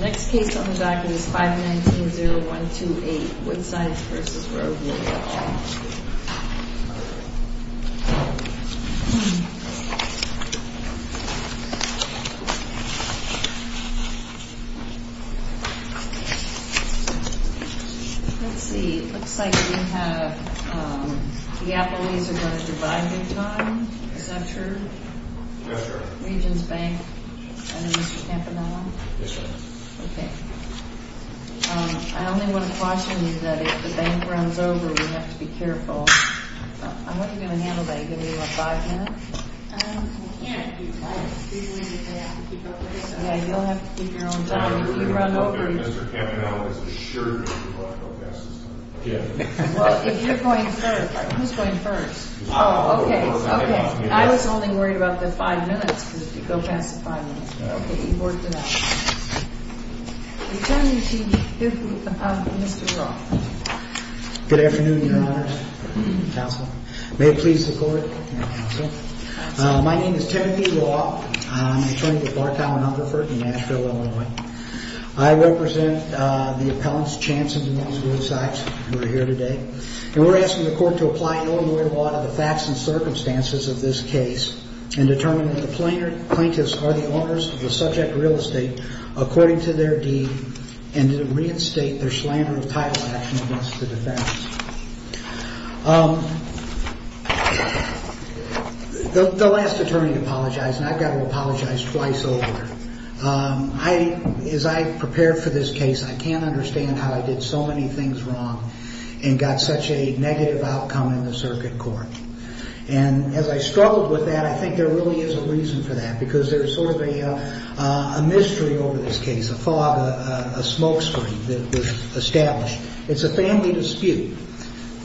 Next case on the docket is 519-0128, Woodsides v. Rodely Let's see, it looks like we have, um, the Appleys are going to divide big time, is that true? Yes, ma'am. Regions Bank, and then Mr. Campanella? Yes, ma'am. Okay. Um, I only want to caution you that if the bank runs over, you have to be careful. How are you going to handle that? Are you going to give me about five minutes? Um, we can't do that. You'll have to keep your own job if you run over. Mr. Campanella is assured that we won't go past this time. Well, if you're going first, who's going first? Oh, okay, okay. I was only worried about the five minutes, because if you go past the five minutes, okay, you've worked it out. We turn now to Mr. Roth. Good afternoon, Your Honor, counsel. May it please the Court, and counsel. My name is Timothy Roth. I'm an attorney with Bartow & Hungerford in Nashville, Illinois. I represent the appellants, Chanson v. Woodsides, who are here today. And we're asking the Court to apply an ordinary law to the facts and circumstances of this case and determine if the plaintiffs are the owners of the subject real estate according to their deed and to reinstate their slander of title action against the defense. Um, the last attorney apologized, and I've got to apologize twice over. Um, as I prepared for this case, I can't understand how I did so many things wrong and got such a negative outcome in the circuit court. And as I struggled with that, I think there really is a reason for that, because there's sort of a mystery over this case, a fog, a smoke screen that was established. It's a family dispute. The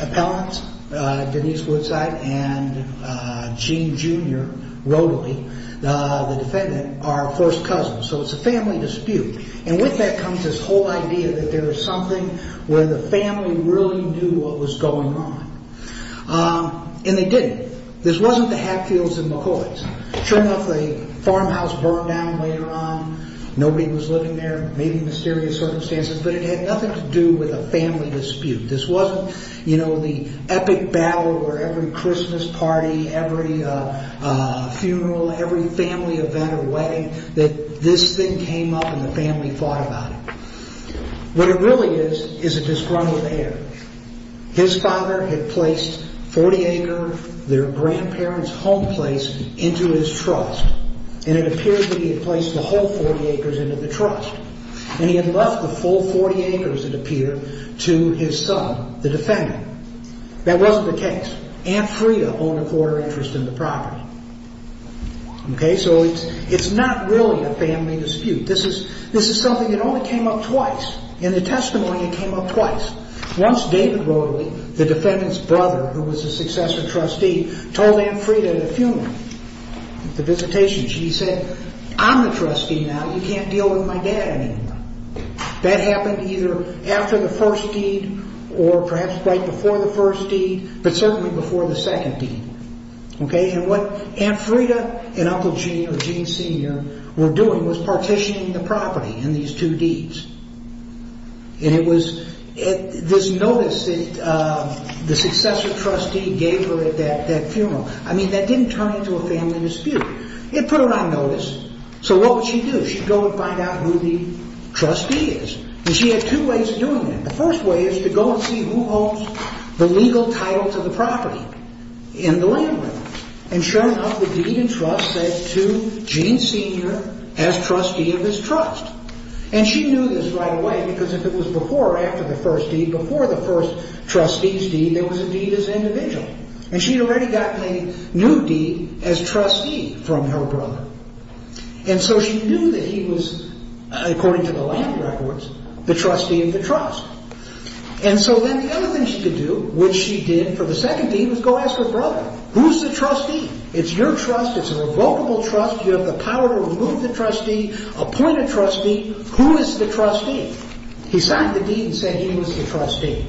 appellants, Denise Woodside and Gene, Jr., Rodley, the defendant, are first cousins. So it's a family dispute. And with that comes this whole idea that there is something where the family really knew what was going on. Um, and they didn't. This wasn't the Hatfields and McCoys. Sure enough, the farmhouse burned down later on. Nobody was living there. Maybe mysterious circumstances, but it had nothing to do with a family dispute. This wasn't, you know, the epic battle where every Christmas party, every funeral, every family event or wedding, that this thing came up and the family fought about it. What it really is is a disgruntled heir. His father had placed 40-acre, their grandparents' home place, into his trust. And it appears that he had placed the whole 40 acres into the trust. And he had left the full 40 acres, it appeared, to his son, the defendant. That wasn't the case. Aunt Freda owned a quarter interest in the property. Okay, so it's not really a family dispute. This is something that only came up twice. In the testimony, it came up twice. Once, David Broderick, the defendant's brother, who was the successor trustee, told Aunt Freda at a funeral, at the visitation, she said, I'm the trustee now, you can't deal with my dad anymore. That happened either after the first deed or perhaps right before the first deed, but certainly before the second deed. Okay, and what Aunt Freda and Uncle Gene or Gene Sr. were doing was partitioning the property in these two deeds. And it was this notice that the successor trustee gave her at that funeral. I mean, that didn't turn into a family dispute. It put her on notice. So what would she do? She'd go and find out who the trustee is. And she had two ways of doing it. The first way is to go and see who owns the legal title to the property in the land. And sure enough, the Deed and Trust said to Gene Sr. as trustee of his trust. And she knew this right away because if it was before or after the first deed, before the first trustee's deed, there was a deed as an individual. And she had already gotten a new deed as trustee from her brother. And so she knew that he was, according to the land records, the trustee of the trust. And so then the other thing she could do, which she did for the second deed, was go ask her brother. Who's the trustee? It's your trust. It's a revocable trust. You have the power to remove the trustee, appoint a trustee. Who is the trustee? He signed the deed and said he was the trustee.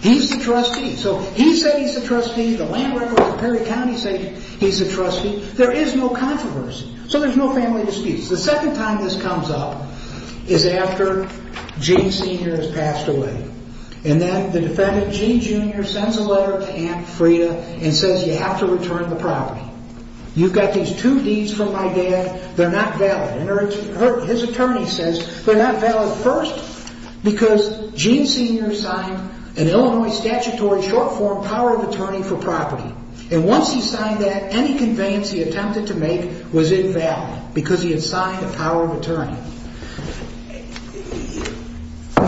He's the trustee. So he said he's the trustee. The land records of Perry County say he's the trustee. There is no controversy. So there's no family disputes. The second time this comes up is after Gene Sr. has passed away. And then the defendant, Gene Jr., sends a letter to Aunt Freda and says, you have to return the property. You've got these two deeds from my dad. They're not valid. And his attorney says they're not valid first because Gene Sr. signed an Illinois statutory short-form power of attorney for property. And once he signed that, any conveyance he attempted to make was invalid because he had signed a power of attorney.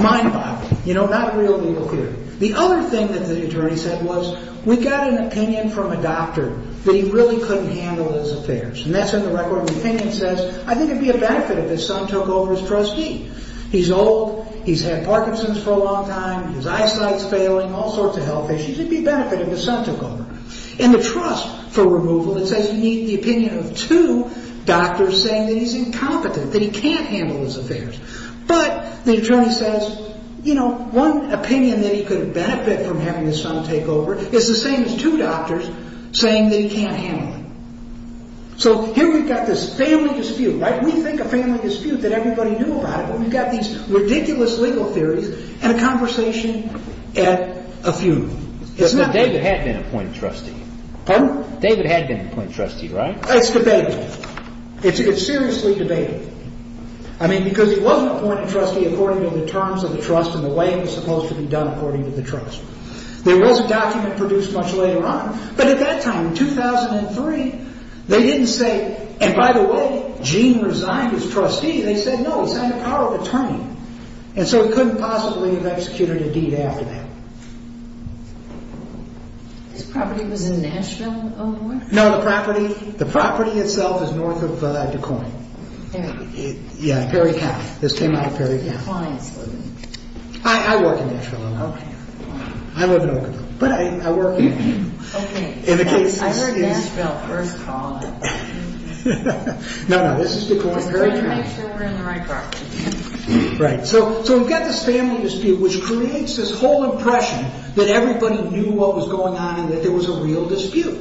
Mind-boggling. You know, not a real legal fear. The other thing that the attorney said was we got an opinion from a doctor that he really couldn't handle his affairs. And that's in the record. The opinion says I think it would be a benefit if his son took over as trustee. He's old. He's had Parkinson's for a long time. His eyesight is failing. All sorts of health issues. It would be a benefit if his son took over. In the trust for removal, it says you need the opinion of two doctors saying that he's incompetent, that he can't handle his affairs. But the attorney says, you know, one opinion that he could benefit from having his son take over is the same as two doctors saying that he can't handle it. So here we've got this family dispute, right? We think a family dispute, that everybody knew about it. But we've got these ridiculous legal theories and a conversation at a funeral. But David had been appointed trustee. Pardon? David had been appointed trustee, right? It's debatable. It's seriously debatable. I mean, because he wasn't appointed trustee according to the terms of the trust and the way it was supposed to be done according to the trust. There was a document produced much later on. But at that time, 2003, they didn't say, and by the way, Gene resigned as trustee. They said, no, it's out of power of attorney. And so he couldn't possibly have executed a deed after that. His property was in Nashville, Illinois? No, the property, the property itself is north of Des Moines. Yeah. Yeah, Perry County. This came out of Perry County. The client's living there. I work in Nashville, Illinois. I live in Oklahoma. But I work there. I heard Nashville first call it. No, no, this is Des Moines. Just make sure we're in the right property. Right. So we've got this family dispute, which creates this whole impression that everybody knew what was going on and that there was a real dispute.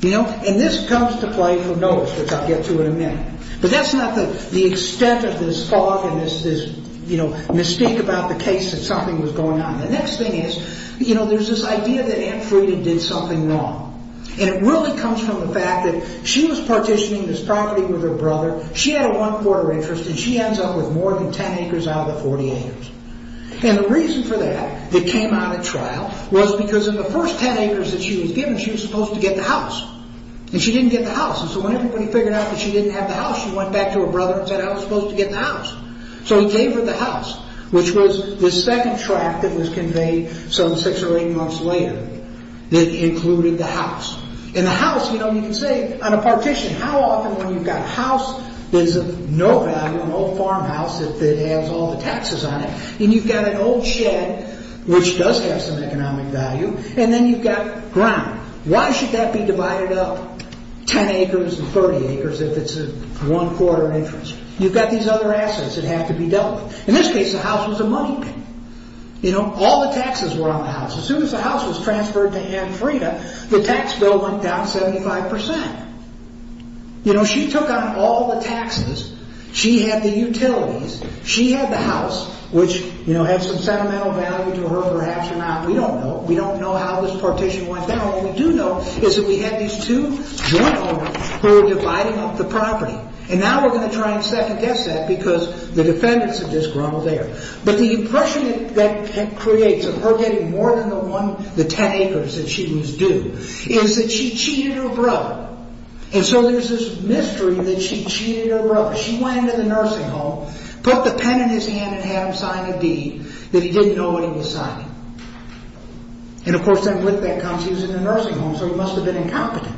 And this comes to play for notice, which I'll get to in a minute. But that's not the extent of this fog and this mystique about the case that something was going on. The next thing is, you know, there's this idea that Ann Friedan did something wrong. And it really comes from the fact that she was partitioning this property with her brother. She had a one-quarter interest, and she ends up with more than 10 acres out of the 40 acres. And the reason for that that came out at trial was because in the first 10 acres that she was given, she was supposed to get the house. And she didn't get the house. And so when everybody figured out that she didn't have the house, she went back to her brother and said, I was supposed to get the house. So he gave her the house, which was the second tract that was conveyed some six or eight months later that included the house. And the house, you know, you can say on a partition, how often when you've got a house that is of no value, an old farmhouse that has all the taxes on it, and you've got an old shed, which does have some economic value, and then you've got ground. Why should that be divided up 10 acres and 30 acres if it's a one-quarter interest? You've got these other assets that have to be dealt with. In this case, the house was a money pit. You know, all the taxes were on the house. As soon as the house was transferred to Ann Frieda, the tax bill went down 75%. You know, she took on all the taxes. She had the utilities. She had the house, which, you know, had some sentimental value to her, perhaps or not. We don't know. We don't know how this partition went down. What we do know is that we had these two joint owners who were dividing up the property. And now we're going to try and second-guess that because the defendants have just grumbled there. But the impression that that creates of her getting more than the 10 acres that she was due is that she cheated her brother. And so there's this mystery that she cheated her brother. She went into the nursing home, put the pen in his hand, and had him sign a deed that he didn't know what he was signing. And, of course, then with that comes he was in the nursing home, so he must have been incompetent.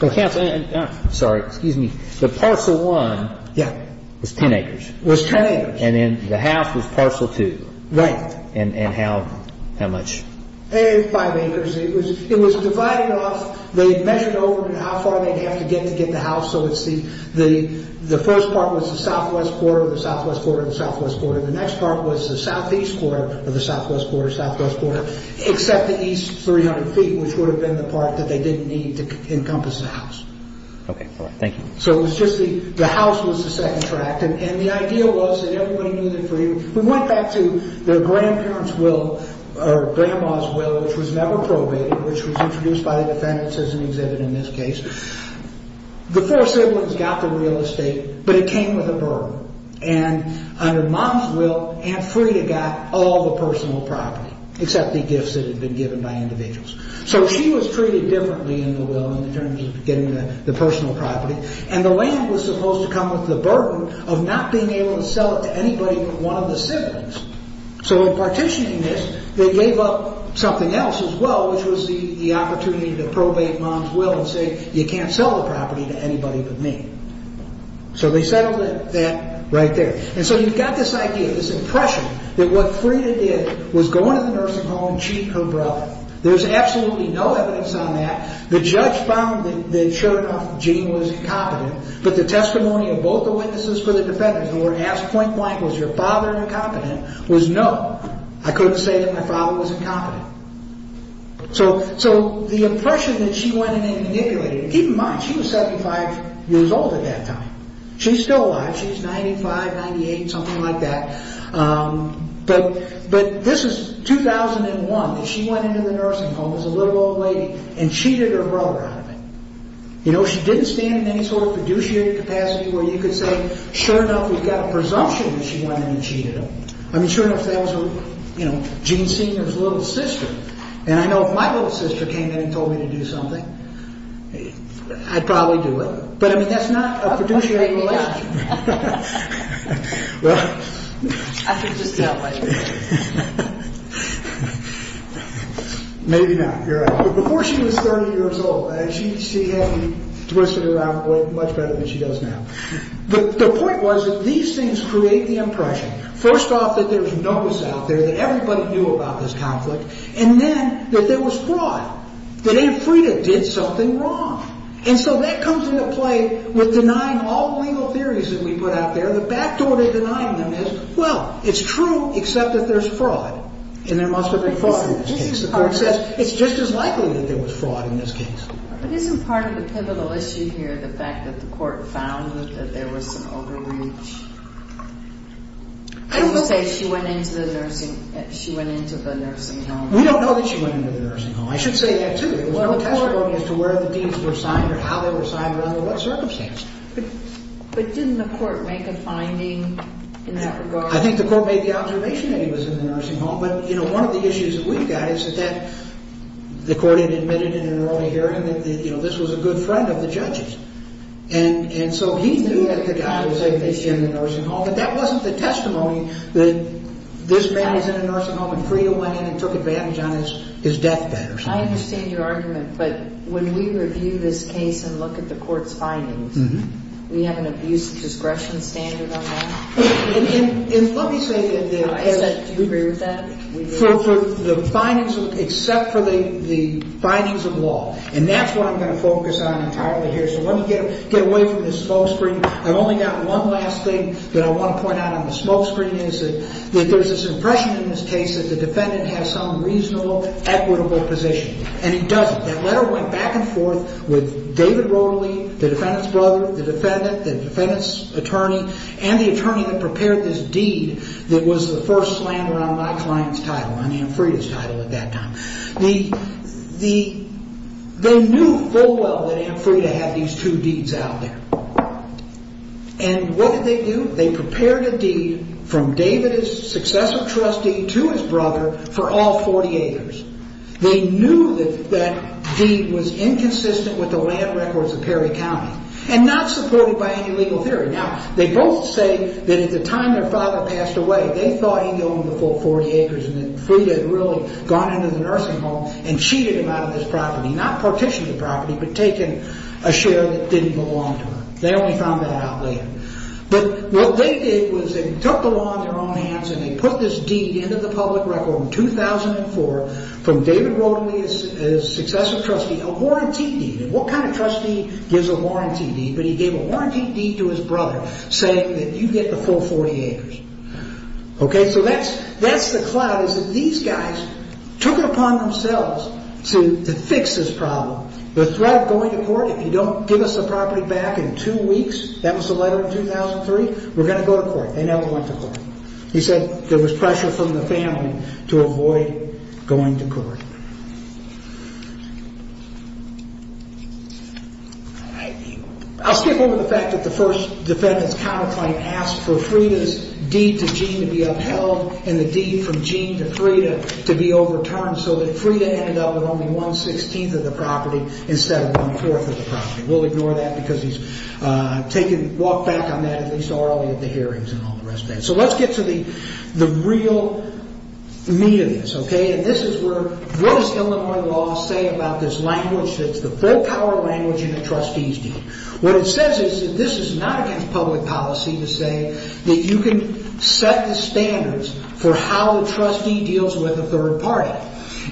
Excuse me. The parcel one was 10 acres. It was 10 acres. And then the house was parcel two. Right. And how much? Five acres. It was divided off. They measured over how far they'd have to get to get the house. So the first part was the southwest quarter, the southwest quarter, the southwest quarter. The next part was the southeast quarter of the southwest quarter, southwest quarter, except the east 300 feet, which would have been the part that they didn't need to encompass the house. Okay. All right. Thank you. So it was just the house was the second tract, and the idea was that everybody knew they were free. We went back to their grandparents' will or grandma's will, which was never probated, which was introduced by the defendants as an exhibit in this case. The four siblings got the real estate, but it came with a burden. And under mom's will, Aunt Freda got all the personal property, except the gifts that had been given by individuals. So she was treated differently in the will in terms of getting the personal property. And the land was supposed to come with the burden of not being able to sell it to anybody but one of the siblings. So in partitioning this, they gave up something else as well, which was the opportunity to probate mom's will and say, you can't sell the property to anybody but me. So they settled that right there. And so you've got this idea, this impression, that what Freda did was go into the nursing home and cheat her brother. There's absolutely no evidence on that. The judge found that, sure enough, Gene was incompetent. But the testimony of both the witnesses for the defendants, who were asked point blank, was your father incompetent, was no. I couldn't say that my father was incompetent. So the impression that she went in and manipulated, keep in mind, she was 75 years old at that time. She's still alive. She's 95, 98, something like that. But this is 2001. She went into the nursing home as a little old lady and cheated her brother out of it. She didn't stand in any sort of fiduciary capacity where you could say, sure enough, we've got a presumption that she went in and cheated him. I mean, sure enough, that was Gene Senior's little sister. And I know if my little sister came in and told me to do something, I'd probably do it. But I mean, that's not a fiduciary relationship. I can just tell by your face. Maybe not. You're right. But before she was 30 years old, she had me twisted around much better than she does now. But the point was that these things create the impression, first off, that there's notice out there that everybody knew about this conflict, and then that there was fraud, that Aunt Freda did something wrong. And so that comes into play with denying all the legal theories that we put out there. The back door to denying them is, well, it's true except that there's fraud, and there must have been fraud in this case. The court says it's just as likely that there was fraud in this case. But isn't part of the pivotal issue here the fact that the court found that there was some overreach? I don't know. And you say she went into the nursing home. We don't know that she went into the nursing home. I should say that, too. There was no testimony as to where the deeds were signed or how they were signed or under what circumstance. But didn't the court make a finding in that regard? I think the court made the observation that he was in the nursing home. But one of the issues that we've got is that the court had admitted in an early hearing that this was a good friend of the judge's. And so he knew that the guy was in the nursing home, but that wasn't the testimony that this man was in a nursing home when Freda went in and took advantage on his deathbed or something. I understand your argument, but when we review this case and look at the court's findings, we have an abuse of discretion standard on that? And let me say that the... Do you agree with that? For the findings except for the findings of law. And that's what I'm going to focus on entirely here. So let me get away from this smoke screen. I've only got one last thing that I want to point out on the smoke screen is that there's this impression in this case that the defendant has some reasonable, equitable position. And he doesn't. That letter went back and forth with David Rorley, the defendant's brother, the defendant, the defendant's attorney, and the attorney that prepared this deed that was the first slander on my client's title, on Anne Freda's title at that time. They knew full well that Anne Freda had these two deeds out there. And what did they do? They prepared a deed from David's successive trustee to his brother for all 40 acres. They knew that that deed was inconsistent with the land records of Perry County and not supported by any legal theory. Now, they both say that at the time their father passed away, they thought he owned the full 40 acres and that Freda had really gone into the nursing home and cheated him out of his property, not partitioned the property, but taken a share that didn't belong to her. They only found that out later. But what they did was they took the law into their own hands and they put this deed into the public record in 2004 from David Rorley, his successive trustee, a warranty deed. And what kind of trustee gives a warranty deed? But he gave a warranty deed to his brother saying that you get the full 40 acres. Okay, so that's the cloud is that these guys took it upon themselves to fix this problem. The threat of going to court if you don't give us the property back in two weeks, that was the letter in 2003, we're going to go to court. They never went to court. He said there was pressure from the family to avoid going to court. I'll skip over the fact that the first defendant's counterclaim asked for Freda's deed to Gene to be upheld and the deed from Gene to Freda to be overturned so that Freda ended up with only one-sixteenth of the property instead of one-fourth of the property. We'll ignore that because he's taken, walked back on that at least early at the hearings and all the rest of that. So let's get to the real meat of this, okay? And this is where, what does Illinois law say about this language that's the full power language in a trustee's deed? What it says is that this is not against public policy to say that you can set the standards for how a trustee deals with a third party.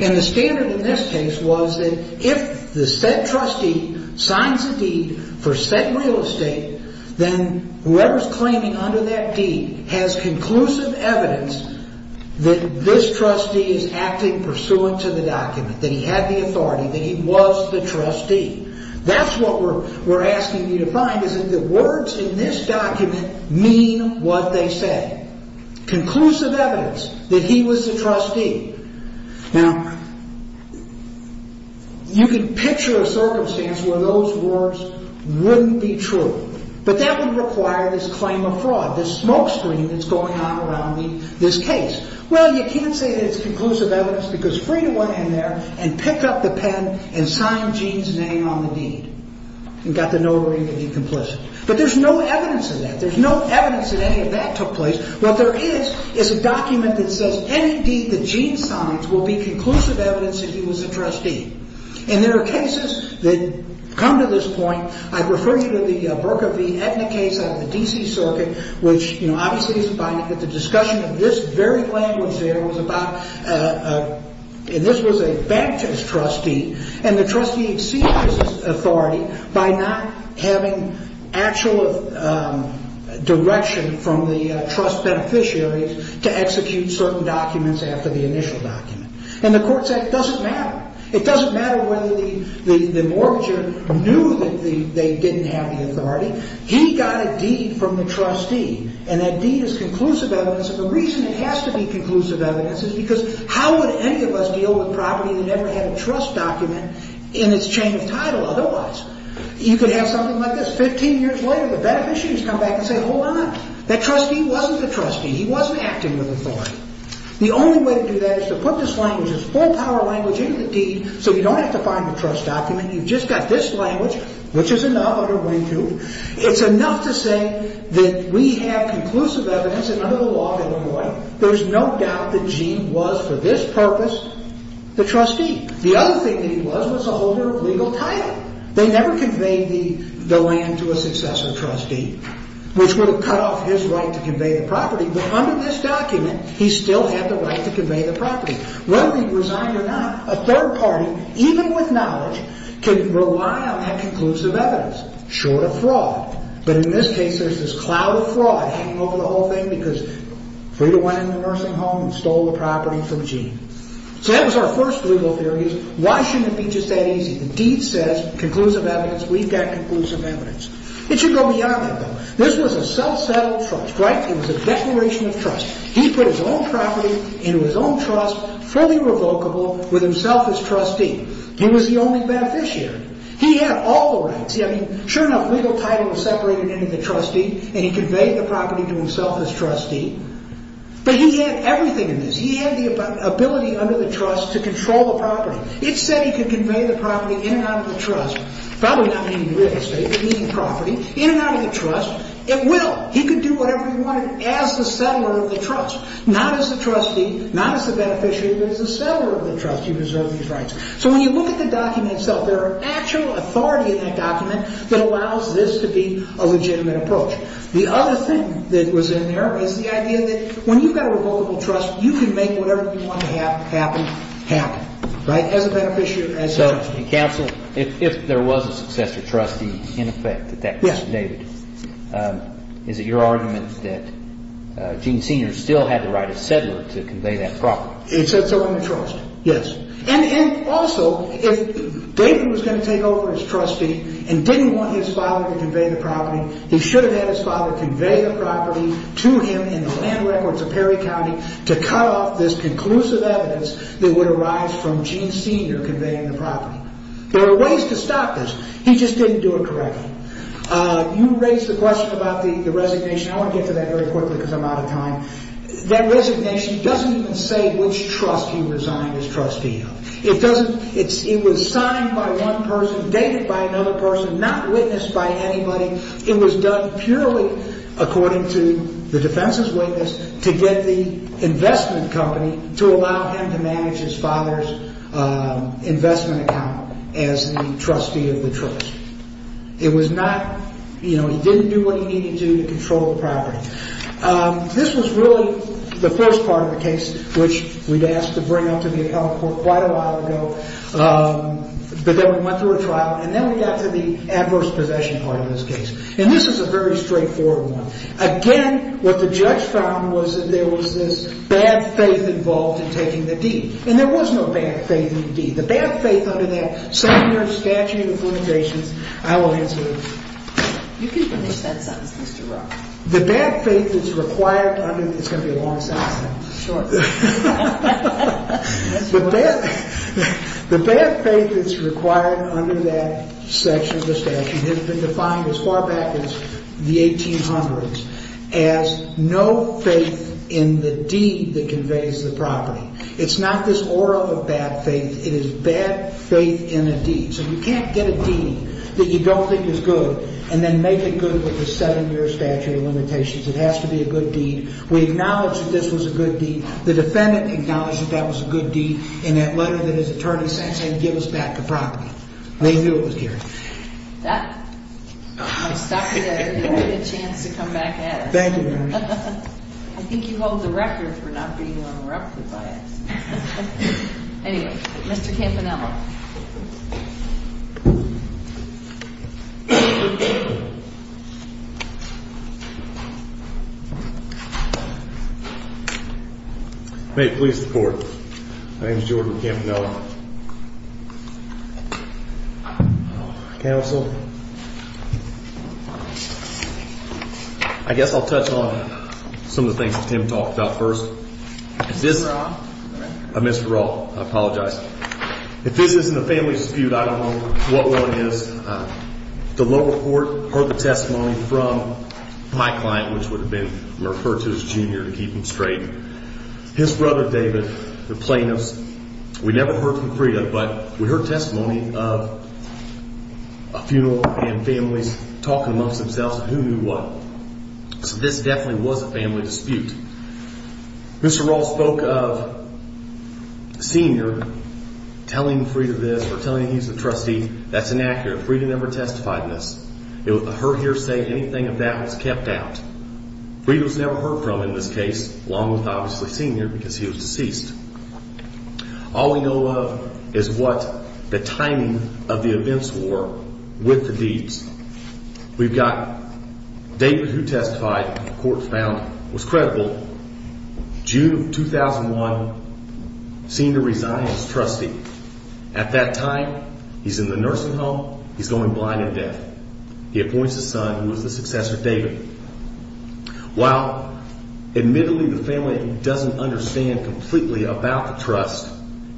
And the standard in this case was that if the said trustee signs a deed for said real estate, then whoever's claiming under that deed has conclusive evidence that this trustee is acting pursuant to the document, that he had the authority, that he was the trustee. That's what we're asking you to find is that the words in this document mean what they say. Conclusive evidence that he was the trustee. Now, you can picture a circumstance where those words wouldn't be true. But that would require this claim of fraud, this smokescreen that's going on around this case. Well, you can't say that it's conclusive evidence because Freda went in there and picked up the pen and signed Gene's name on the deed and got the notary to be complicit. But there's no evidence of that. There's no evidence that any of that took place. What there is is a document that says any deed that Gene signs will be conclusive evidence that he was a trustee. And there are cases that come to this point. I refer you to the Burka v. Edna case out of the D.C. Circuit, which, you know, obviously is binding, but the discussion of this very language there was about, and this was a Baptist trustee, And the trustee exceeds his authority by not having actual direction from the trust beneficiaries to execute certain documents after the initial document. And the court said it doesn't matter. It doesn't matter whether the mortgager knew that they didn't have the authority. He got a deed from the trustee. And that deed is conclusive evidence. And the reason it has to be conclusive evidence is because how would any of us deal with property that never had a trust document in its chain of title otherwise? You could have something like this. Fifteen years later, the beneficiaries come back and say, hold on. That trustee wasn't the trustee. He wasn't acting with authority. The only way to do that is to put this language, this full-power language, into the deed so you don't have to find the trust document. You've just got this language, which is enough under Wing Two. It's enough to say that we have conclusive evidence, and under the law, by the way, there's no doubt that Gene was, for this purpose, the trustee. The other thing that he was was a holder of legal title. They never conveyed the land to a successor trustee, which would have cut off his right to convey the property. But under this document, he still had the right to convey the property. Whether he resigned or not, a third party, even with knowledge, can rely on that conclusive evidence, short of fraud. But in this case, there's this cloud of fraud hanging over the whole thing because Frieda went in the nursing home and stole the property from Gene. So that was our first legal theory is why shouldn't it be just that easy? The deed says conclusive evidence. We've got conclusive evidence. It should go beyond that, though. This was a self-settled trust, right? It was a declaration of trust. He put his own property into his own trust, fully revocable, with himself as trustee. He was the only beneficiary. He had all the rights. I mean, sure enough, legal title was separated into the trustee, and he conveyed the property to himself as trustee. But he had everything in this. He had the ability under the trust to control the property. It said he could convey the property in and out of the trust, probably not meaning real estate, but meaning property, in and out of the trust. It will. He could do whatever he wanted as the settler of the trust, not as the trustee, not as the beneficiary, but as the settler of the trust. You deserve these rights. So when you look at the document itself, there are actual authority in that document that allows this to be a legitimate approach. The other thing that was in there is the idea that when you've got a revocable trust, you can make whatever you want to happen happen, right, as a beneficiary, as a trustee. So, counsel, if there was a successor trustee, in effect, that that was David, is it your argument that Gene Sr. still had the right as settler to convey that property? It said so in the trust, yes. And also, if David was going to take over as trustee and didn't want his father to convey the property, he should have had his father convey the property to him in the land records of Perry County to cut off this conclusive evidence that would arise from Gene Sr. conveying the property. There are ways to stop this. He just didn't do it correctly. You raised the question about the resignation. I want to get to that very quickly because I'm out of time. That resignation doesn't even say which trust he resigned as trustee of. It doesn't. It was signed by one person, dated by another person, not witnessed by anybody. It was done purely according to the defense's witness to get the investment company to allow him to manage his father's investment account as the trustee of the trust. It was not, you know, he didn't do what he needed to to control the property. This was really the first part of the case, which we'd asked to bring up to the appellate court quite a while ago. But then we went through a trial, and then we got to the adverse possession part of this case. And this is a very straightforward one. Again, what the judge found was that there was this bad faith involved in taking the deed. And there was no bad faith in the deed. The bad faith under that secondary statute of limitations, I will answer. You can finish that sentence, Mr. Rock. The bad faith that's required under that section of the statute has been defined as far back as the 1800s as no faith in the deed that conveys the property. It's not this aura of bad faith. So you can't get a deed that you don't think is good and then make it good with a seven-year statute of limitations. It has to be a good deed. We acknowledge that this was a good deed. The defendant acknowledged that that was a good deed in that letter that his attorney sent saying, give us back the property. They knew it was here. That, I'll stop you there. You'll get a chance to come back at us. Thank you, Mary. I think you hold the record for not being interrupted by us. Anyway, Mr. Campanella. May it please the court. My name is Jordan Campanella. Counsel. I guess I'll touch on some of the things that Tim talked about first. Mr. Raw. I'm Mr. Raw. I apologize. If this isn't a family dispute, I don't know what one is. The lower court heard the testimony from my client, which would have been referred to as Junior to keep him straight. His brother, David, the plaintiffs, we never heard from Freda, but we heard testimony of a funeral and families talking amongst themselves and who knew what. So this definitely was a family dispute. Mr. Raw spoke of Senior telling Freda this or telling he's the trustee. That's inaccurate. Freda never testified in this. Her hearsay, anything of that was kept out. Freda was never heard from in this case, along with obviously Senior because he was deceased. All we know of is what the timing of the events were with the deeds. We've got David who testified, the court found was credible. June of 2001, Senior resigned as trustee. At that time, he's in the nursing home. He's going blind and deaf. He appoints a son who is the successor, David. While admittedly the family doesn't understand completely about the trust,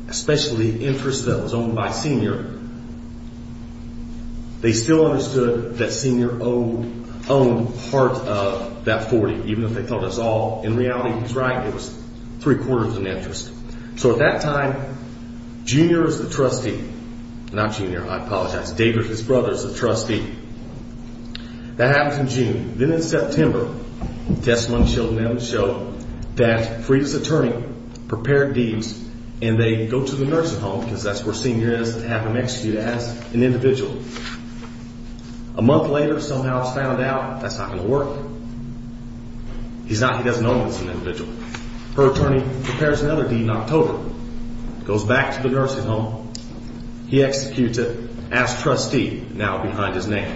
especially interest that was owned by Senior, they still understood that Senior owned part of that 40, even if they thought that's all. In reality, he's right. It was three quarters of an interest. So at that time, Junior is the trustee. Not Junior, I apologize. David, his brother, is the trustee. That happens in June. Then in September, testimony showed that Freda's attorney prepared deeds and they go to the nursing home because that's where Senior is to have him executed as an individual. A month later, somehow it's found out that's not going to work. He doesn't know that it's an individual. Her attorney prepares another deed in October, goes back to the nursing home. He executes it as trustee, now behind his neck.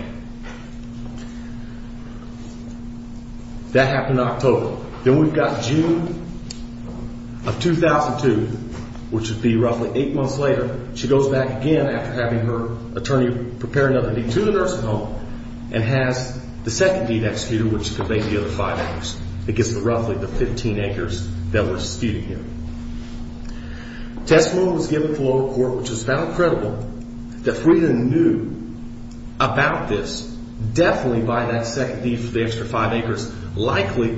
That happened in October. Then we've got June of 2002, which would be roughly eight months later. She goes back again after having her attorney prepare another deed to the nursing home and has the second deed executed, which could make the other five acres. It gets to roughly the 15 acres that were executed here. Testimony was given to the lower court, which was found credible that Freda knew about this definitely by that second deed for the extra five acres, likely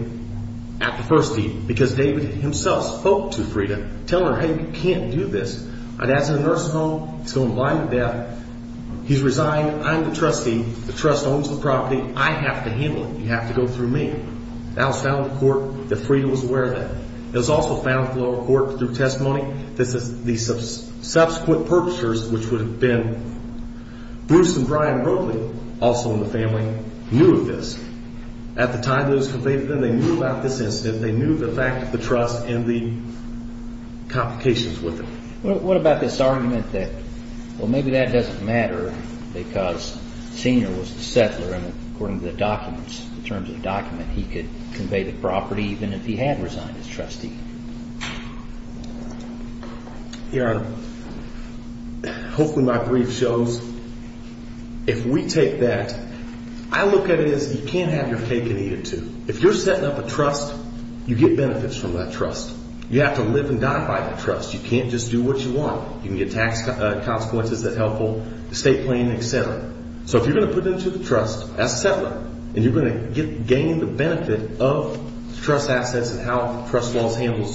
at the first deed because David himself spoke to Freda, telling her, hey, you can't do this. My dad's in a nursing home. He's going to lie to death. He's resigned. I'm the trustee. The trust owns the property. I have to handle it. You have to go through me. That was found in the court that Freda was aware of that. It was also found at the lower court through testimony that the subsequent perpetrators, which would have been Bruce and Brian Broakley, also in the family, knew of this. At the time that it was conveyed to them, they knew about this incident. They knew the fact of the trust and the complications with it. What about this argument that, well, maybe that doesn't matter because Senior was the settler, and according to the documents, the terms of the document, he could convey the property even if he had resigned as trustee? Your Honor, hopefully my brief shows if we take that, I look at it as you can't have your cake and eat it, too. If you're setting up a trust, you get benefits from that trust. You have to live and die by the trust. You can't just do what you want. You can get tax consequences that help the state plan, et cetera. So if you're going to put it into the trust as a settler, and you're going to gain the benefit of trust assets and how trust laws handle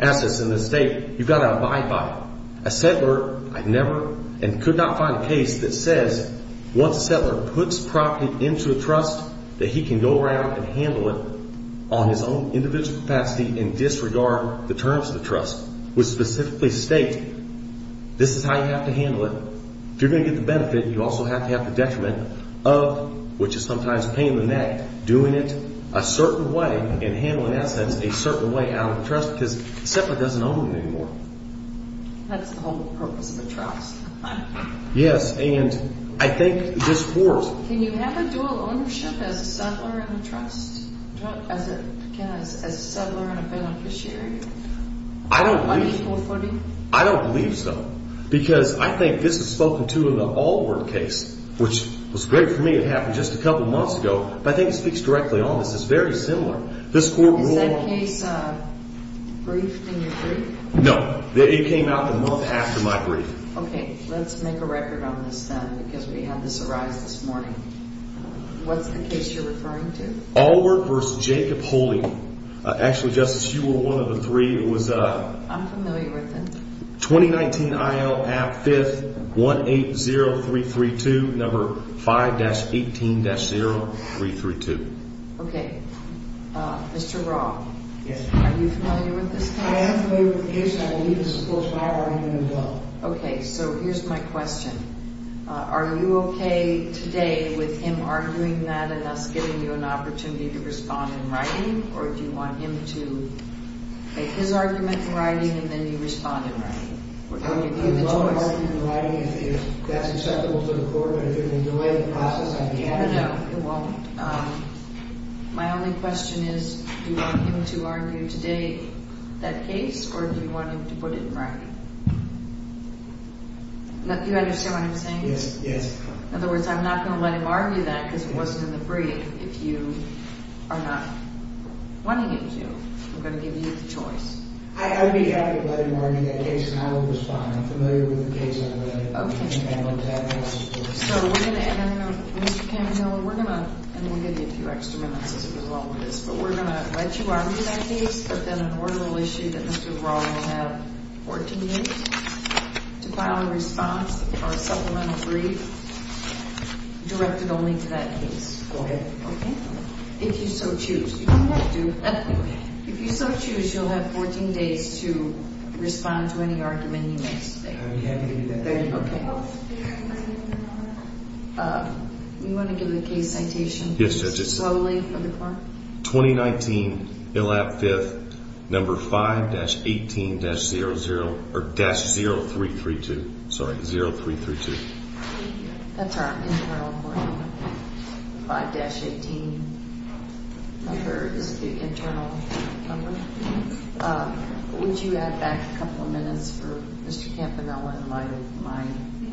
assets in the state, you've got to abide by it. A settler, I never and could not find a case that says once a settler puts property into a trust, that he can go around and handle it on his own individual capacity and disregard the terms of the trust, which specifically state this is how you have to handle it. If you're going to get the benefit, you also have to have the detriment of, which is sometimes a pain in the neck, doing it a certain way and handling assets a certain way out of the trust because a settler doesn't own them anymore. That's the whole purpose of a trust. Yes, and I think this wars. Can you have a dual ownership as a settler and a trust, as a settler and a beneficiary? I don't believe so. Because I think this is spoken to in the Allward case, which was great for me. It happened just a couple months ago, but I think it speaks directly on this. It's very similar. Is that case briefed in your brief? No. It came out a month after my brief. Okay. Let's make a record on this then because we had this arise this morning. What's the case you're referring to? Allward v. Jacob Holding. Actually, Justice, you were one of the three. I'm familiar with it. 2019 IL-5180332, number 5-18-0332. Okay. Mr. Roth? Yes. Are you familiar with this case? I am familiar with the case. I believe it's supposed to have already been done. Okay. So here's my question. Are you okay today with him arguing that and us giving you an opportunity to respond in writing, or do you want him to make his argument in writing and then you respond in writing? We're going to give you the choice. I would love an argument in writing if that's acceptable to the Court, but if it would delay the process on behalf of the Court. No, no. It won't. My only question is, do you want him to argue today that case, or do you want him to put it in writing? Do you understand what I'm saying? Yes. In other words, I'm not going to let him argue that because it wasn't in the brief if you are not wanting him to. I'm going to give you the choice. I'd be happy to let him argue that case, and I will respond. I'm familiar with the case, and I'm going to handle it today. Okay. So we're going to end on a note. Mr. Campanella, we're going to end on a note. And we'll give you a few extra minutes as we go along with this. But we're going to let you argue that case, but then an ordinal issue that Mr. Roth will have 14 minutes to file a response or a supplemental brief directed only to that case. Go ahead. Okay. If you so choose. You don't have to. If you so choose, you'll have 14 days to respond to any argument you make today. I'll be happy to do that. Thank you. Okay. Do you want to give the case citation? Yes, Judge. Slowly for the court. 2019, ILAP 5th, number 5-18-0332. Sorry, 0332. That's our internal court number. 5-18 number is the internal number. Would you add back a couple of minutes for Mr. Campanella in light of my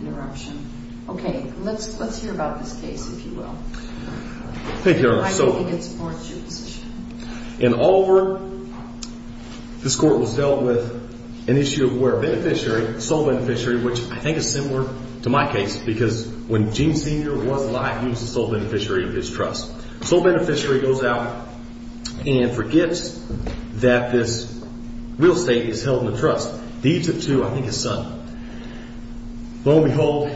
interruption? Okay. Let's hear about this case, if you will. Thank you, Your Honor. I think it supports your position. In Oliver, this court was dealt with an issue where a beneficiary, sole beneficiary, which I think is similar to my case. Because when Gene Sr. was alive, he was the sole beneficiary of his trust. The sole beneficiary goes out and forgets that this real estate is held in the trust. Leads it to, I think, his son. Lo and behold,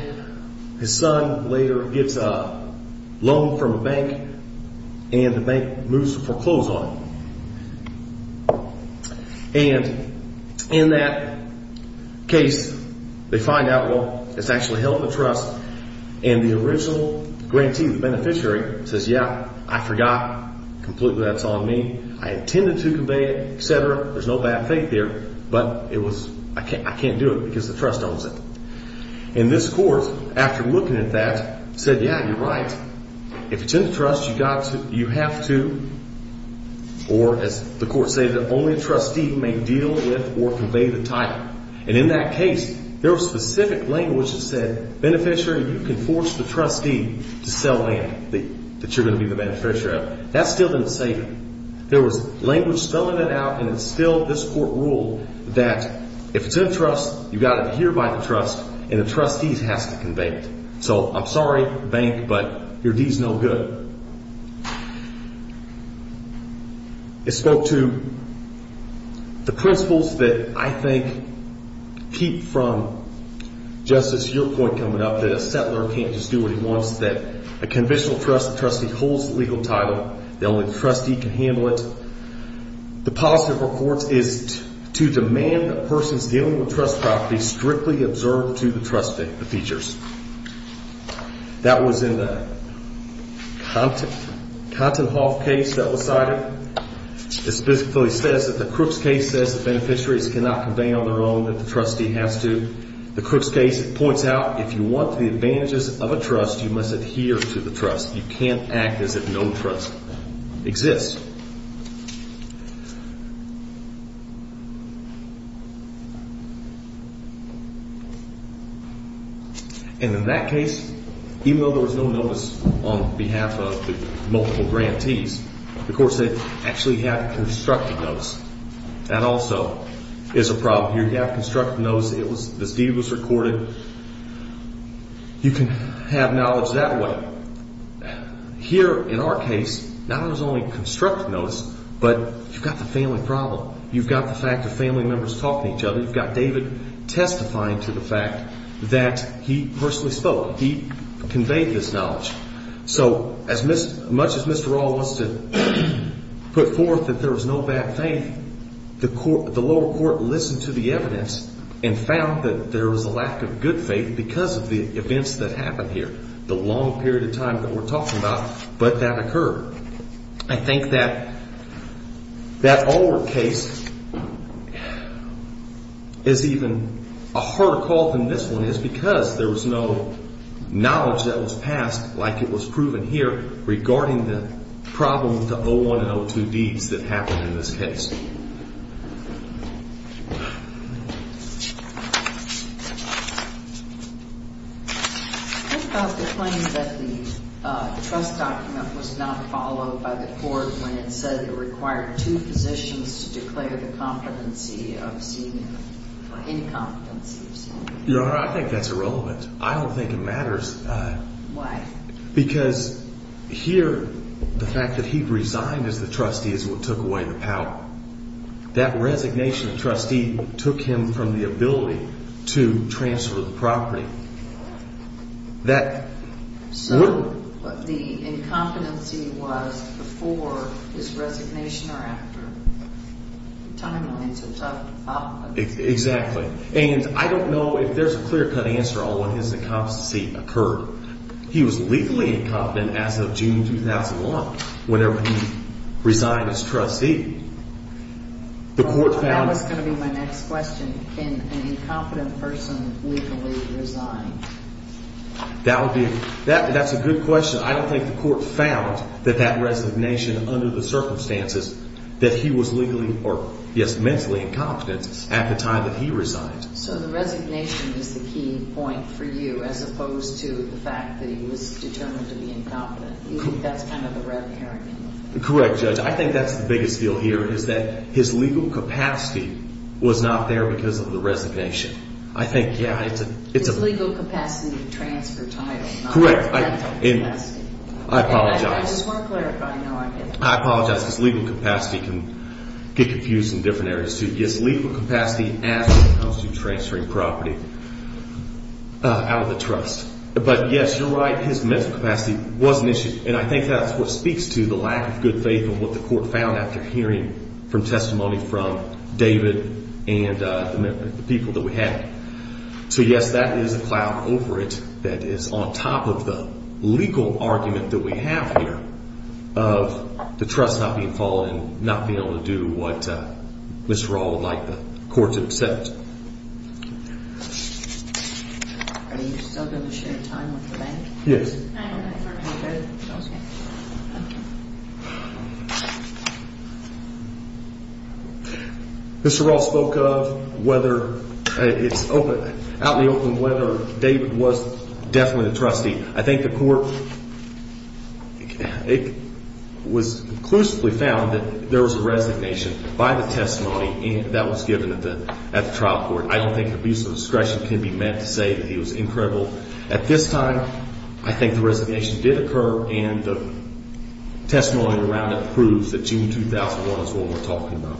his son later gets a loan from a bank, and the bank moves to foreclose on him. And in that case, they find out, well, it's actually held in the trust. And the original grantee, the beneficiary, says, yeah, I forgot completely that it's on me. I intended to convey it, et cetera. There's no bad faith there. But it was, I can't do it because the trust owns it. And this court, after looking at that, said, yeah, you're right. If it's in the trust, you have to, or as the court stated, only a trustee may deal with or convey the title. And in that case, there was specific language that said, beneficiary, you can force the trustee to sell land that you're going to be the beneficiary of. That still didn't save him. There was language spelling it out, and it's still this court rule that if it's in the trust, you've got to adhere by the trust, and the trustee has to convey it. So, I'm sorry, bank, but your deed's no good. It spoke to the principles that I think keep from, Justice, your point coming up, that a settler can't just do what he wants, that a conventional trust, the trustee holds the legal title, the only trustee can handle it. The policy of our courts is to demand that persons dealing with trust property strictly observe to the trustee the features. That was in the Kontenhof case that was cited. It specifically says that the Crooks case says that beneficiaries cannot convey on their own, that the trustee has to. The Crooks case points out, if you want the advantages of a trust, you must adhere to the trust. You can't act as if no trust exists. And in that case, even though there was no notice on behalf of the multiple grantees, the court said, actually, you have constructive notice. That also is a problem. You have constructive notice that this deed was recorded. You can have knowledge that way. Here, in our case, not only was there constructive notice, but you've got the family problem. You've got the fact that family members talk to each other. You've got David testifying to the fact that he personally spoke. He conveyed this knowledge. So as much as Mr. Rall wants to put forth that there was no bad faith, the lower court listened to the evidence and found that there was a lack of good faith because of the events that happened here, the long period of time that we're talking about, but that occurred. I think that that Allwood case is even a harder call than this one is because there was no knowledge that was passed like it was proven here regarding the problem with the 01 and 02 deeds that happened in this case. Thank you. What about the claim that the trust document was not followed by the court when it said it required two positions to declare the competency of senior for any competency of senior? Your Honor, I think that's irrelevant. I don't think it matters. Why? Because here, the fact that he resigned as the trustee is what took away the power. That resignation of trustee took him from the ability to transfer the property. So the incompetency was before his resignation or after. Timelines are tough to follow. Exactly. And I don't know if there's a clear-cut answer on when his incompetency occurred. He was legally incompetent as of June 2001, whenever he resigned as trustee. That was going to be my next question. Can an incompetent person legally resign? That's a good question. I don't think the court found that that resignation under the circumstances that he was legally or, yes, mentally incompetent at the time that he resigned. So the resignation is the key point for you as opposed to the fact that he was determined to be incompetent. You think that's kind of the red herring? Correct, Judge. I think that's the biggest deal here is that his legal capacity was not there because of the resignation. I think, yeah, it's a— His legal capacity to transfer title, not mental capacity. Correct. I apologize. I just want to clarify. No, I get that. I apologize because legal capacity can get confused in different areas, too. Yes, legal capacity as opposed to transferring property out of the trust. But, yes, you're right. His mental capacity was an issue, and I think that's what speaks to the lack of good faith in what the court found after hearing from testimony from David and the people that we had. So, yes, that is a cloud over it that is on top of the legal argument that we have here of the trust not being followed and not being able to do what Mr. Raul would like the court to accept. Are you still going to share time with the bank? Yes. Okay. Okay. Mr. Raul spoke of whether—it's out in the open whether David was definitely the trustee. I think the court—it was conclusively found that there was a resignation by the testimony that was given at the trial court. I don't think an abuse of discretion can be meant to say that he was incredible. At this time, I think the resignation did occur, and the testimony around it proves that June 2001 is what we're talking about.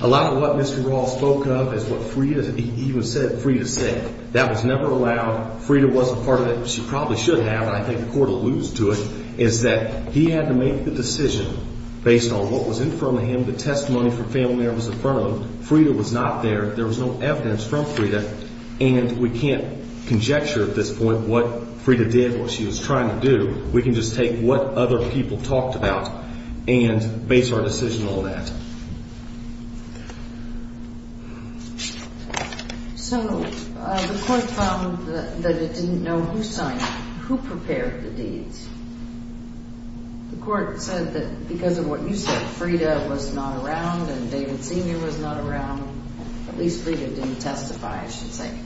A lot of what Mr. Raul spoke of is what Frida said. That was never allowed. Frida wasn't part of it. She probably should have, and I think the court alludes to it, is that he had to make the decision based on what was in front of him. The testimony from family members in front of him. Frida was not there. There was no evidence from Frida, and we can't conjecture at this point what Frida did, what she was trying to do. We can just take what other people talked about and base our decision on that. So the court found that it didn't know who prepared the deeds. The court said that because of what you said, Frida was not around and David Sr. was not around. At least Frida didn't testify, I should say.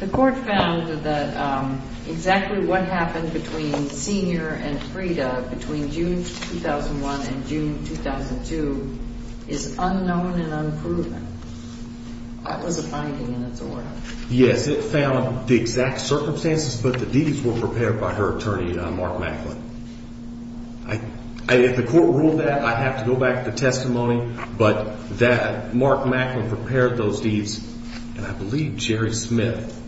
The court found that exactly what happened between Sr. and Frida between June 2001 and June 2002 is unknown and unproven. That was a finding in its own right. Yes, it found the exact circumstances, but the deeds were prepared by her attorney, Mark Macklin. If the court ruled that, I'd have to go back to the testimony, but Mark Macklin prepared those deeds, and I believe Jerry Smith,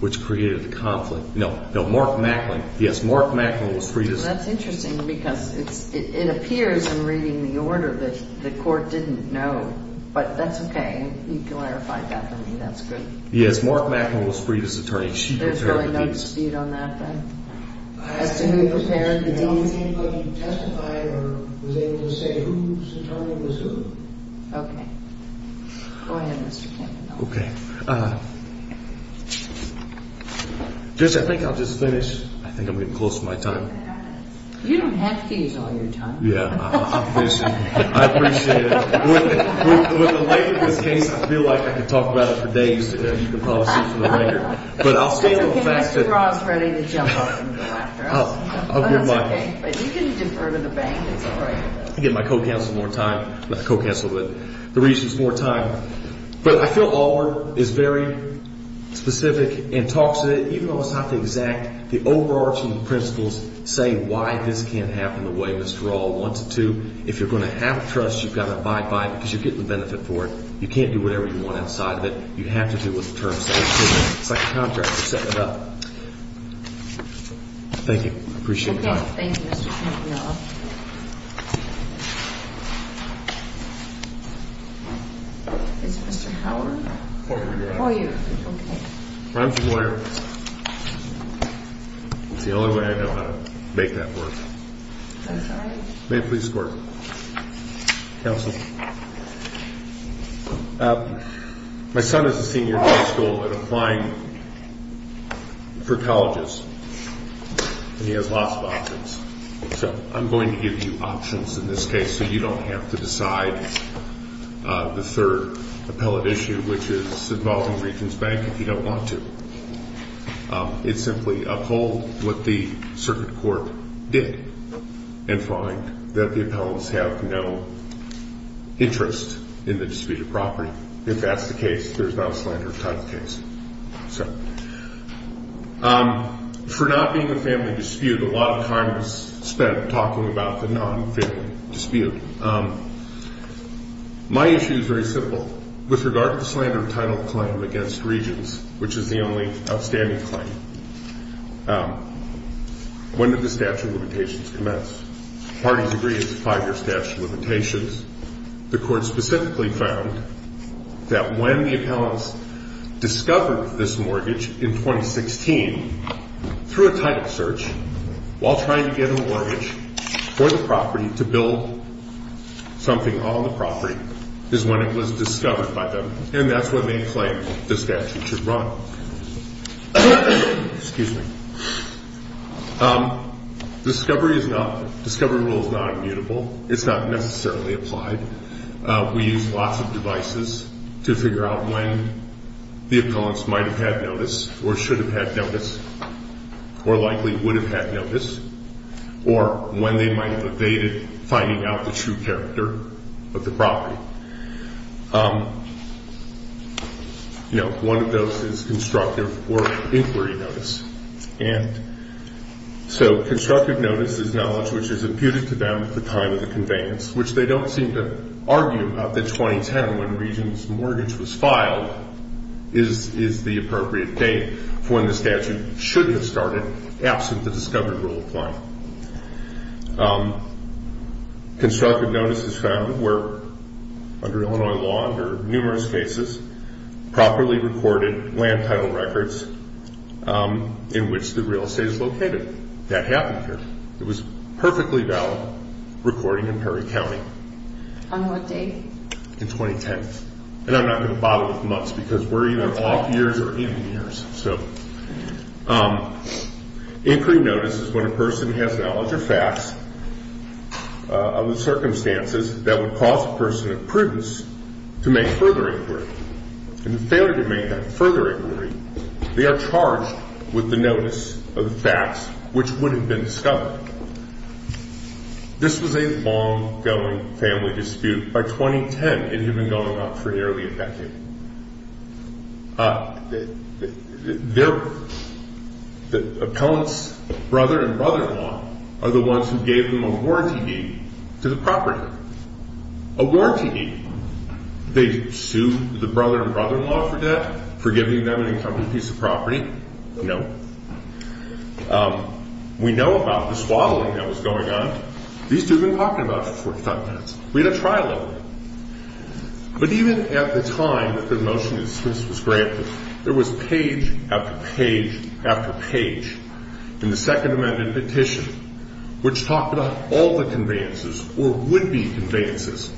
which created the conflict. No, Mark Macklin. Yes, Mark Macklin was Frida's. Well, that's interesting because it appears in reading the order that the court didn't know, but that's okay. You clarified that for me. That's good. Yes, Mark Macklin was Frida's attorney. There's really no dispute on that, then, as to who prepared the deeds? Okay. Go ahead, Mr. Campbell. Okay. Judge, I think I'll just finish. I think I'm getting close to my time. You don't have to use all your time. Yeah, I'm finishing. I appreciate it. With the length of this case, I feel like I could talk about it for days today. You can probably see from the record. It's okay. Mr. Brau is ready to jump off and go after us. I'll give my— That's okay. But you can defer to the bank. It's all right. I'll give my co-counsel more time. Not co-counsel, but the reason is more time. But I feel Allward is very specific and talks to it, even though it's not the exact—the overarching principles say why this can't happen the way Mr. All wants it to. If you're going to have trust, you've got to abide by it because you're getting the benefit for it. You can't do whatever you want outside of it. You have to do what the terms say. It's like a contract. You set it up. Thank you. I appreciate your time. Okay. Thank you, Mr. Campbell. Is Mr. Howard? For you. For you. Okay. I'm familiar. It's the only way I know how to make that work. I'm sorry? May it please the Court. Counsel. My son is a senior in high school and applying for colleges, and he has lots of options. So I'm going to give you options in this case so you don't have to decide the third appellate issue, which is involving Regents Bank if you don't want to. It's simply uphold what the circuit court did and find that the appellants have no interest in the dispute of property. If that's the case, there's not a slander of type case. For not being a family dispute, a lot of time was spent talking about the non-family dispute. My issue is very simple. With regard to the slander of title claim against Regents, which is the only outstanding claim, when did the statute of limitations commence? Parties agree it's a five-year statute of limitations. The Court specifically found that when the appellants discovered this mortgage in 2016 through a title search, while trying to get a mortgage for the property to build something on the property, is when it was discovered by them. And that's when they claimed the statute should run. Excuse me. Discovery rule is not immutable. It's not necessarily applied. We use lots of devices to figure out when the appellants might have had notice or should have had notice or likely would have had notice or when they might have evaded finding out the true character of the property. One of those is constructive or inquiry notice. And so constructive notice is knowledge which is imputed to them at the time of the conveyance, which they don't seem to argue about that 2010, when Regents mortgage was filed, is the appropriate date for when the statute should have started, absent the discovery rule applying. Constructive notice is found where, under Illinois law, under numerous cases, properly recorded land title records in which the real estate is located. That happened here. It was perfectly valid recording in Perry County. On what date? In 2010. And I'm not going to bother with months because we're either off years or in years. So inquiry notice is when a person has knowledge or facts of the circumstances that would cause a person of prudence to make further inquiry. In the failure to make that further inquiry, they are charged with the notice of the facts which would have been discovered. This was a long going family dispute. By 2010, it had been going on for nearly a decade. The appellant's brother and brother-in-law are the ones who gave them a warranty deed to the property. A warranty deed. They sued the brother and brother-in-law for debt, for giving them an incumbent piece of property. No. We know about the swaddling that was going on. These two have been talking about it for 45 minutes. We had a trial over it. But even at the time that the motion was granted, there was page after page after page in the Second Amendment petition, which talked about all the conveyances or would-be conveyances,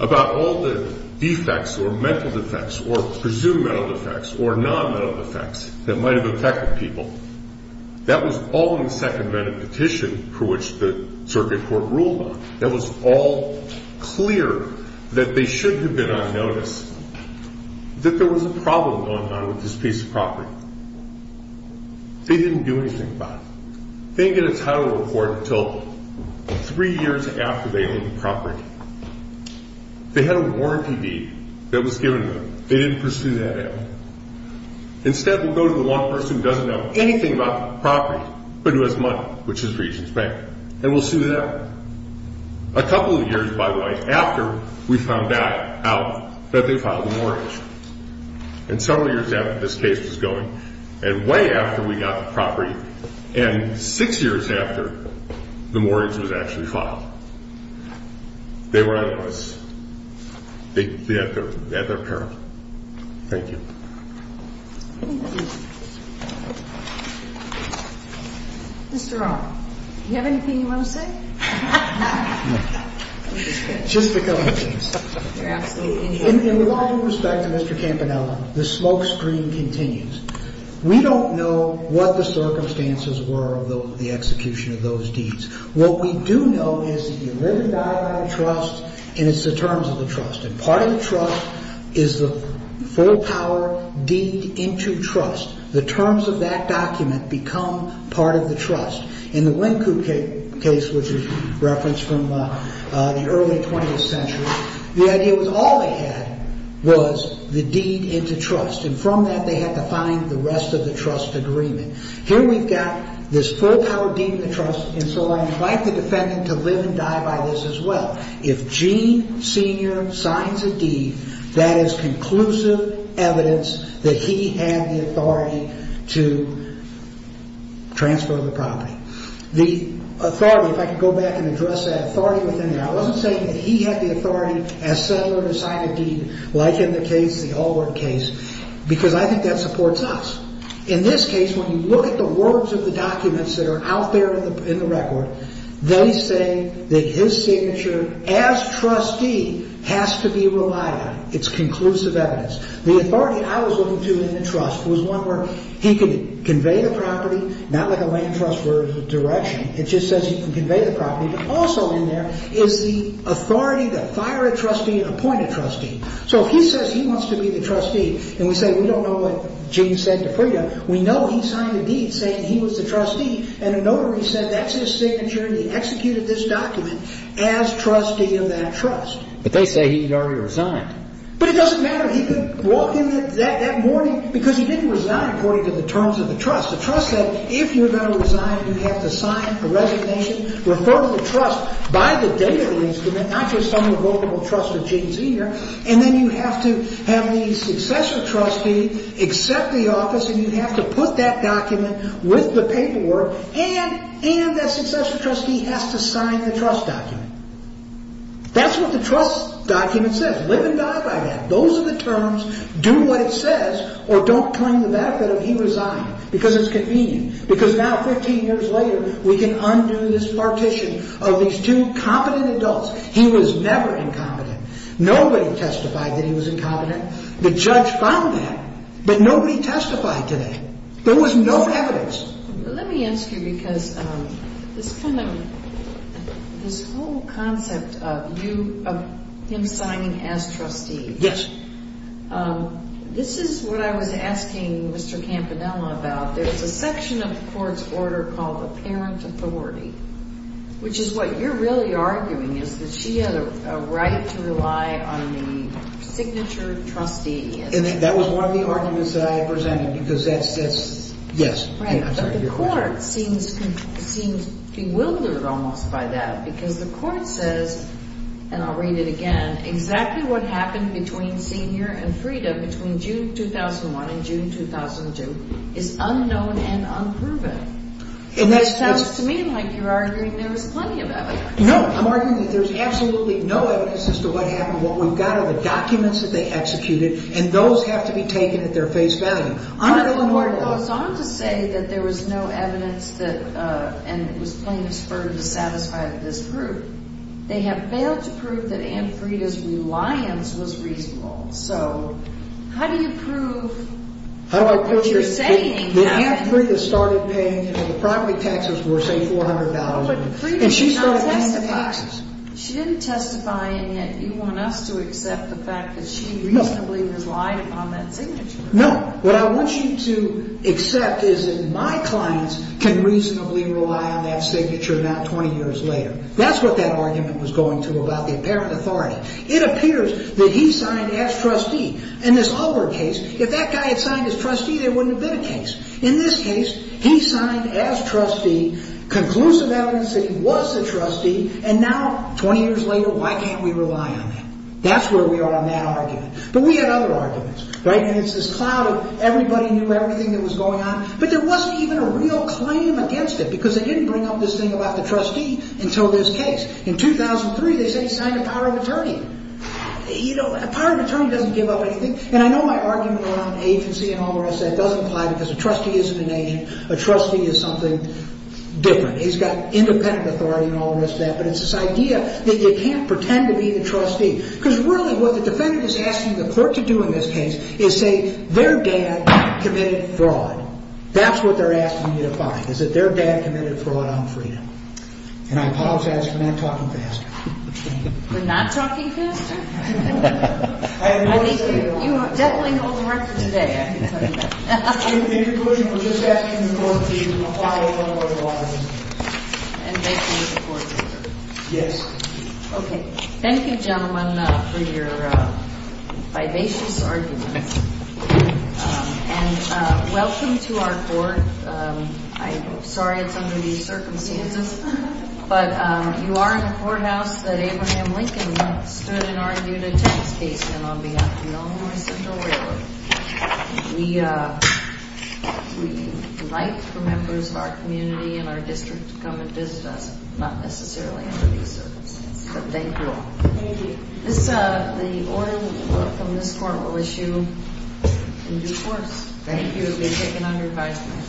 about all the defects or mental defects or presumed mental defects or non-mental defects that might have affected people. That was all in the Second Amendment petition for which the circuit court ruled on. It was all clear that they should have been on notice that there was a problem going on with this piece of property. They didn't do anything about it. They didn't get a title report until three years after they owned the property. They had a warranty deed that was given to them. They didn't pursue that out. Instead, we'll go to the one person who doesn't know anything about the property but who has money, which is Regent's Bank, and we'll sue them. A couple of years, by the way, after we found out that they filed a mortgage. And several years after this case was going, and way after we got the property, and six years after the mortgage was actually filed, they were on notice. They had their peril. Thank you. Mr. Rohn, do you have anything you want to say? No. Just a couple of things. You're absolutely right. In the line of respect to Mr. Campanella, the smoke screen continues. We don't know what the circumstances were of the execution of those deeds. What we do know is that you live and die by the trust, and it's the terms of the trust. And part of the trust is the full power deed into trust. The terms of that document become part of the trust. In the Wynkoop case, which is referenced from the early 20th century, the idea was all they had was the deed into trust, and from that they had to find the rest of the trust agreement. Here we've got this full power deed into trust, and so I invite the defendant to live and die by this as well. If Gene Sr. signs a deed, that is conclusive evidence that he had the authority to transfer the property. The authority, if I could go back and address that authority within there, I wasn't saying that he had the authority as settler to sign a deed like in the case, the Allwood case, because I think that supports us. In this case, when you look at the words of the documents that are out there in the record, they say that his signature as trustee has to be relied on. It's conclusive evidence. The authority I was looking to in the trust was one where he could convey the property, not like a land trust where there's a direction, it just says he can convey the property, but also in there is the authority to fire a trustee and appoint a trustee. So if he says he wants to be the trustee and we say we don't know what Gene said to Frieda, we know he signed a deed saying he was the trustee and a notary said that's his signature and he executed this document as trustee of that trust. But they say he had already resigned. But it doesn't matter. He could walk in that morning because he didn't resign according to the terms of the trust. The trust said if you're going to resign, you have to sign a resignation, refer to the trust by the date of the instrument, not just some revocable trust of Gene Sr., and then you have to have the successor trustee accept the office and you have to put that document with the paperwork and that successor trustee has to sign the trust document. That's what the trust document says. Live and die by that. Those are the terms. Do what it says or don't cling to the fact that he resigned because it's convenient. Because now, 15 years later, we can undo this partition of these two competent adults. He was never incompetent. Nobody testified that he was incompetent. The judge found that. But nobody testified today. There was no evidence. Let me ask you because this whole concept of him signing as trustee. Yes. This is what I was asking Mr. Campanella about. There's a section of the court's order called the parent authority, which is what you're really arguing is that she had a right to rely on the signature trustee. That was one of the arguments that I presented because that's, yes. But the court seems bewildered almost by that because the court says, and I'll read it again, exactly what happened between Sr. and Frida between June 2001 and June 2002 is unknown and unproven. It sounds to me like you're arguing there was plenty of evidence. No. I'm arguing that there's absolutely no evidence as to what happened. What we've got are the documents that they executed, and those have to be taken at their face value. The court goes on to say that there was no evidence and it was plain as fur to satisfy this group. They have failed to prove that Aunt Frida's reliance was reasonable. So how do you prove what you're saying? That Aunt Frida started paying, you know, the property taxes were, say, $400. But Frida did not testify. And she started paying the taxes. She didn't testify, and yet you want us to accept the fact that she reasonably relied upon that signature. No. What I want you to accept is that my clients can reasonably rely on that signature, not 20 years later. That's what that argument was going to about the parent authority. It appears that he signed as trustee. If that guy had signed as trustee, there wouldn't have been a case. In this case, he signed as trustee, conclusive evidence that he was a trustee, and now 20 years later, why can't we rely on him? That's where we are on that argument. But we had other arguments, right? And it's this cloud of everybody knew everything that was going on, but there wasn't even a real claim against it because they didn't bring up this thing about the trustee until this case. In 2003, they said he signed a power of attorney. A power of attorney doesn't give up anything. And I know my argument around agency and all the rest of that doesn't apply because a trustee isn't an agent. A trustee is something different. He's got independent authority and all the rest of that, but it's this idea that you can't pretend to be the trustee because really what the defendant is asking the court to do in this case is say their dad committed fraud. That's what they're asking you to find is that their dad committed fraud on freedom. And I apologize for not talking faster. We're not talking faster? I think you definitely hold the record today. I can tell you that. Thank you, Judge, for just asking the court to follow up on the argument. And thank you to the court. Yes. Okay. Thank you, gentlemen, for your vivacious arguments. And welcome to our court. I'm sorry it's under these circumstances. But you are in a courthouse that Abraham Lincoln stood and argued a tennis case in on behalf of the Illinois Central Railroad. We invite the members of our community and our district to come and visit us, not necessarily under these circumstances. But thank you all. Thank you. The order from this court will issue in due course. Thank you. It will be taken under advisement.